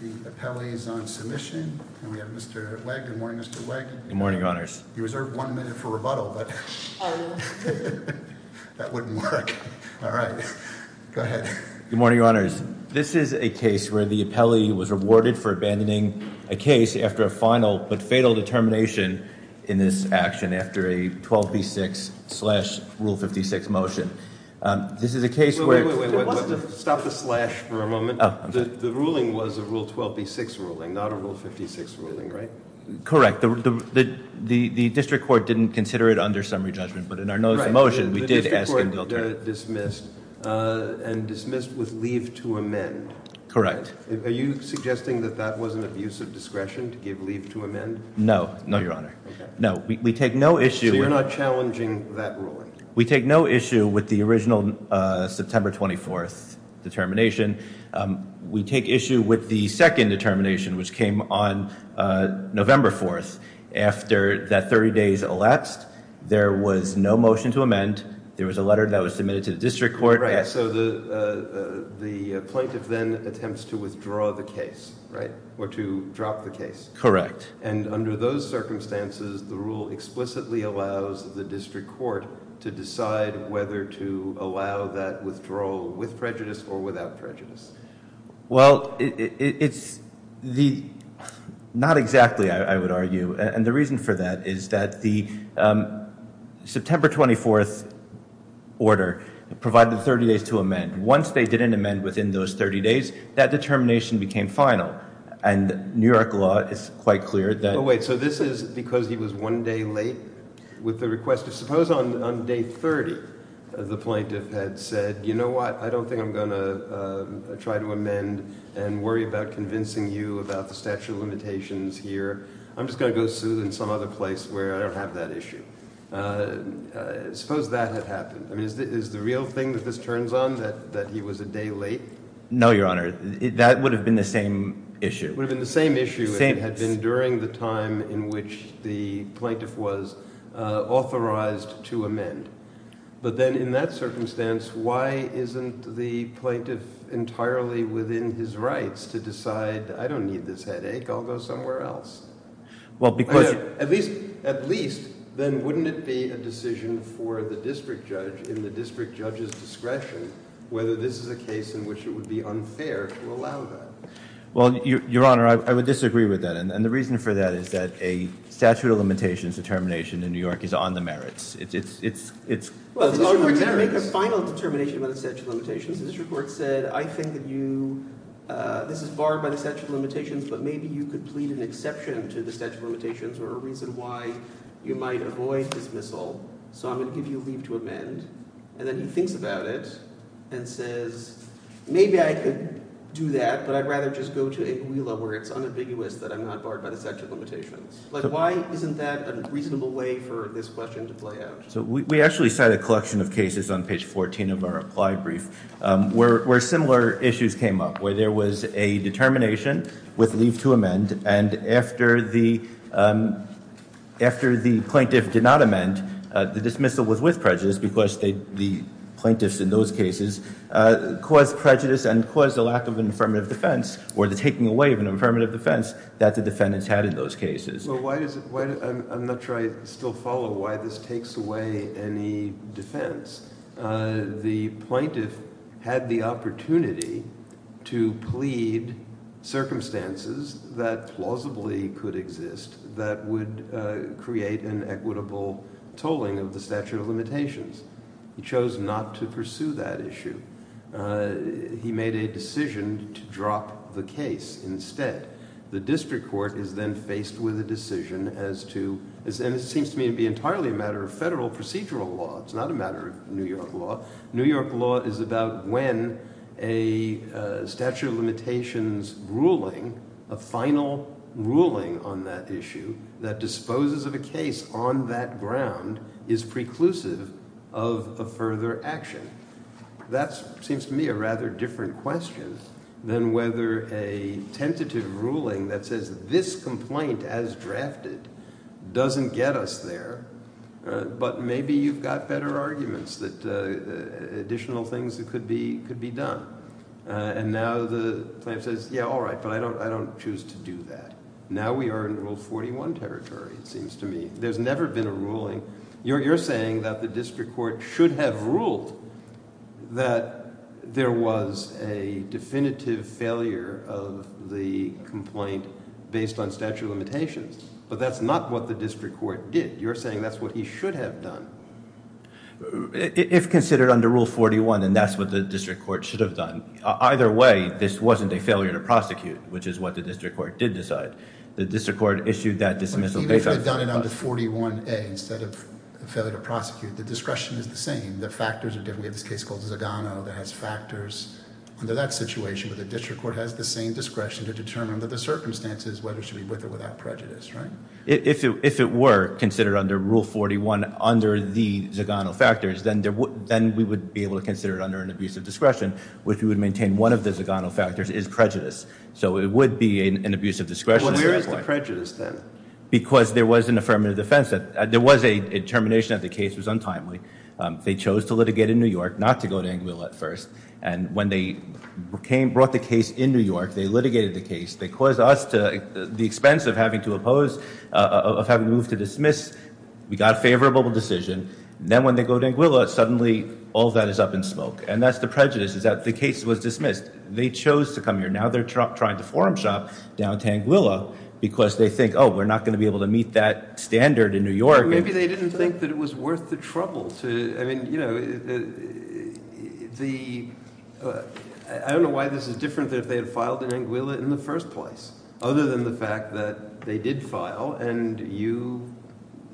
The appellee is on submission, and we have Mr. Wegg. Good morning, Mr. Wegg. Good morning, Your Honors. You reserved one minute for rebuttal, but that wouldn't work. All right. Go ahead. Good morning, Your Honors. This is a case where the appellee was rewarded for abandoning a case after a final but fatal determination in this action after a 12B6 slash Rule 56 motion. This is a case where— Wait, wait, wait. Stop the slash for a moment. Oh, I'm sorry. The ruling was a Rule 12B6 ruling, not a Rule 56 ruling, right? Correct. The district court didn't consider it under summary judgment, but in our notice of motion— Right. The district court dismissed and dismissed with leave to amend. Correct. Are you suggesting that that was an abuse of discretion to give leave to amend? No. No, Your Honor. No. We take no issue— So you're not challenging that ruling? We take no issue with the original September 24th determination. We take issue with the second determination, which came on November 4th. After that 30 days elapsed, there was no motion to amend. There was a letter that was submitted to the district court. Right. So the plaintiff then attempts to withdraw the case, right, or to drop the case. Correct. And under those circumstances, the rule explicitly allows the district court to decide whether to allow that withdrawal with prejudice or without prejudice. Well, it's the—not exactly, I would argue. And the reason for that is that the September 24th order provided 30 days to amend. Once they didn't amend within those 30 days, that determination became final. And New York law is quite clear that— Wait. So this is because he was one day late with the request. Suppose on day 30 the plaintiff had said, you know what, I don't think I'm going to try to amend and worry about convincing you about the statute of limitations here. I'm just going to go sue in some other place where I don't have that issue. Suppose that had happened. I mean, is the real thing that this turns on, that he was a day late? No, Your Honor. That would have been the same issue. It would have been the same issue if it had been during the time in which the plaintiff was authorized to amend. But then in that circumstance, why isn't the plaintiff entirely within his rights to decide, I don't need this headache, I'll go somewhere else? Well, because— At least, then wouldn't it be a decision for the district judge in the district judge's discretion whether this is a case in which it would be unfair to allow that? Well, Your Honor, I would disagree with that. And the reason for that is that a statute of limitations determination in New York is on the merits. It's— Well, the district court didn't make a final determination about the statute of limitations. The district court said, I think that you—this is barred by the statute of limitations, but maybe you could plead an exception to the statute of limitations or a reason why you might avoid dismissal. So I'm going to give you leave to amend. And then he thinks about it and says, maybe I could do that, but I'd rather just go to a GWILA where it's unambiguous that I'm not barred by the statute of limitations. Why isn't that a reasonable way for this question to play out? So we actually cite a collection of cases on page 14 of our applied brief where similar issues came up, where there was a determination with leave to amend, and after the plaintiff did not amend, the dismissal was with prejudice because the plaintiffs in those cases caused prejudice and caused a lack of an affirmative defense or the taking away of an affirmative defense that the defendants had in those cases. I'm not sure I still follow why this takes away any defense. The plaintiff had the opportunity to plead circumstances that plausibly could exist that would create an equitable tolling of the statute of limitations. He chose not to pursue that issue. He made a decision to drop the case instead. The district court is then faced with a decision as to, and it seems to me to be entirely a matter of federal procedural law. It's not a matter of New York law. New York law is about when a statute of limitations ruling, a final ruling on that issue, that disposes of a case on that ground is preclusive of a further action. That seems to me a rather different question than whether a tentative ruling that says this complaint as drafted doesn't get us there, but maybe you've got better arguments that additional things could be done. And now the plaintiff says, yeah, all right, but I don't choose to do that. Now we are in Rule 41 territory, it seems to me. There's never been a ruling. So you're saying that the district court should have ruled that there was a definitive failure of the complaint based on statute of limitations, but that's not what the district court did. You're saying that's what he should have done. If considered under Rule 41, then that's what the district court should have done. Either way, this wasn't a failure to prosecute, which is what the district court did decide. The district court issued that dismissal- Even if they've done it under 41A instead of failure to prosecute, the discretion is the same. The factors are different. We have this case called Zagano that has factors under that situation, but the district court has the same discretion to determine under the circumstances whether it should be with or without prejudice, right? If it were considered under Rule 41 under the Zagano factors, then we would be able to consider it under an abuse of discretion, which we would maintain one of the Zagano factors is prejudice. So it would be an abuse of discretion. Well, where is the prejudice then? Because there was an affirmative defense. There was a determination that the case was untimely. They chose to litigate in New York, not to go to Anguilla at first. And when they brought the case in New York, they litigated the case. They caused us to, at the expense of having to oppose, of having to move to dismiss, we got a favorable decision. Then when they go to Anguilla, suddenly all of that is up in smoke. And that's the prejudice, is that the case was dismissed. They chose to come here. Now they're trying to forum shop down to Anguilla because they think, oh, we're not going to be able to meet that standard in New York. Maybe they didn't think that it was worth the trouble to, I mean, you know, the, I don't know why this is different than if they had filed in Anguilla in the first place, other than the fact that they did file and you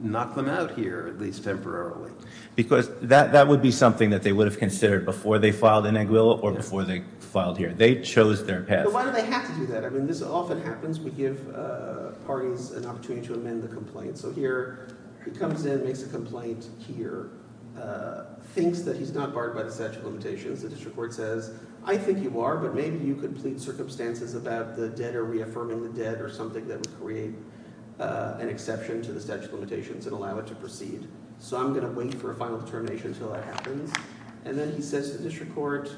knock them out here, at least temporarily. Because that would be something that they would have considered before they filed in Anguilla or before they filed here. They chose their path. But why do they have to do that? I mean, this often happens. We give parties an opportunity to amend the complaint. So here he comes in, makes a complaint here, thinks that he's not barred by the statute of limitations. The district court says, I think you are, but maybe you could plead circumstances about the debtor reaffirming the debt or something that would create an exception to the statute of limitations and allow it to proceed. So I'm going to wait for a final determination until that happens. And then he says to the district court,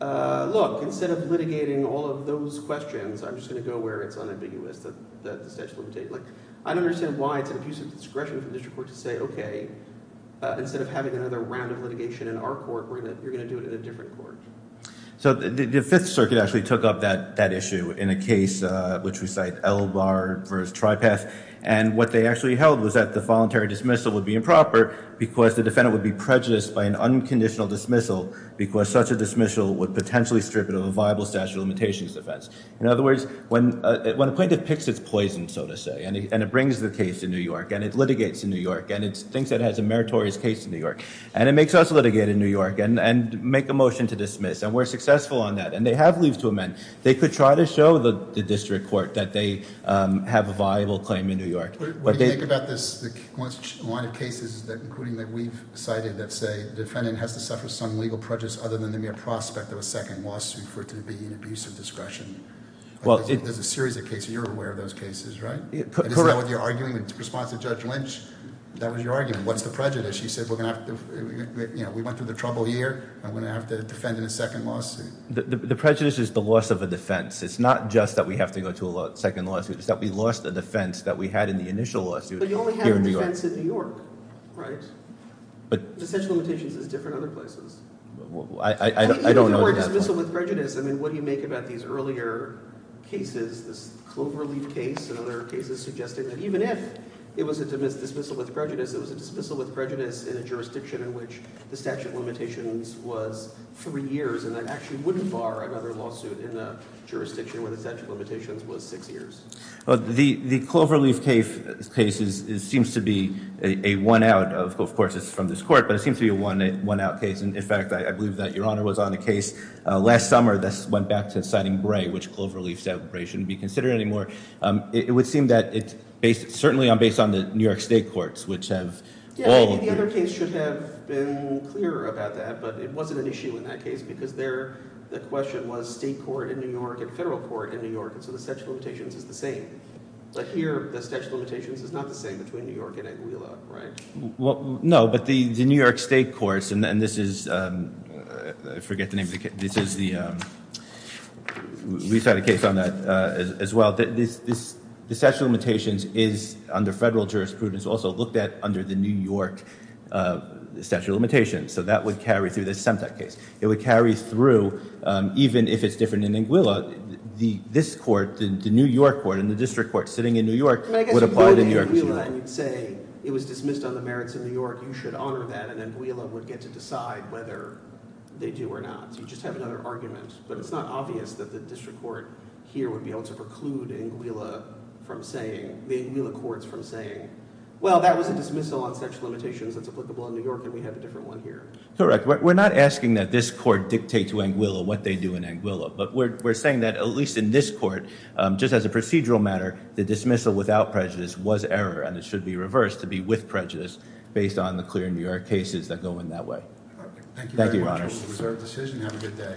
look, instead of litigating all of those questions, I'm just going to go where it's unambiguous that the statute of limitations. I don't understand why it's an abuse of discretion for the district court to say, okay, instead of having another round of litigation in our court, you're going to do it in a different court. So the Fifth Circuit actually took up that issue in a case, which we cite, Elbar v. Tripath. And what they actually held was that the voluntary dismissal would be improper because the defendant would be prejudiced by an unconditional dismissal because such a dismissal would potentially strip it of a viable statute of limitations defense. In other words, when a plaintiff picks its poison, so to say, and it brings the case to New York and it litigates in New York and it thinks it has a meritorious case in New York and it makes us litigate in New York and make a motion to dismiss and we're successful on that and they have leave to amend. They could try to show the district court that they have a viable claim in New York. What do you think about this line of cases including that we've cited that say the defendant has to suffer some legal prejudice other than the mere prospect of a second lawsuit for it to be an abuse of discretion? There's a series of cases. You're aware of those cases, right? Correct. Is that what you're arguing in response to Judge Lynch? That was your argument. What's the prejudice? She said we went through the trouble here and we're going to have to defend in a second lawsuit. The prejudice is the loss of a defense. It's not just that we have to go to a second lawsuit. It's that we lost a defense that we had in the initial lawsuit here in New York. But you only had a defense in New York, right? But the statute of limitations is different in other places. I don't know that. Even if you were dismissal with prejudice, I mean, what do you make about these earlier cases, this Cloverleaf case and other cases suggesting that even if it was a dismissal with prejudice, it was a dismissal with prejudice in a jurisdiction in which the statute of limitations was three years and I actually wouldn't bar another lawsuit in a jurisdiction where the statute of limitations was six years. The Cloverleaf case seems to be a one-out. Of course, it's from this court, but it seems to be a one-out case. In fact, I believe that Your Honor was on a case last summer that went back to citing Bray, which Cloverleaf said Bray shouldn't be considered anymore. It would seem that it's certainly based on the New York State courts, which have all— Yeah, I mean, the other case should have been clearer about that, but it wasn't an issue in that case because the question was state court in New York and federal court in New York, and so the statute of limitations is the same. But here the statute of limitations is not the same between New York and Aguila, right? No, but the New York State courts, and this is—I forget the name of the case. This is the—we've had a case on that as well. The statute of limitations is under federal jurisprudence, also looked at under the New York statute of limitations, so that would carry through. This is Semtec case. It would carry through even if it's different in Aguila. This court, the New York court and the district court sitting in New York would apply to New York as well. I guess if you go to Aguila and you'd say it was dismissed on the merits of New York, you should honor that, and then Aguila would get to decide whether they do or not. You just have another argument, but it's not obvious that the district court here would be able to preclude Aguila from saying— the Aguila courts from saying, well, that was a dismissal on such limitations that's applicable in New York and we have a different one here. Correct. We're not asking that this court dictate to Aguila what they do in Aguila, but we're saying that at least in this court, just as a procedural matter, the dismissal without prejudice was error and it should be reversed to be with prejudice based on the clear New York cases that go in that way. Thank you very much. Thank you, Your Honor.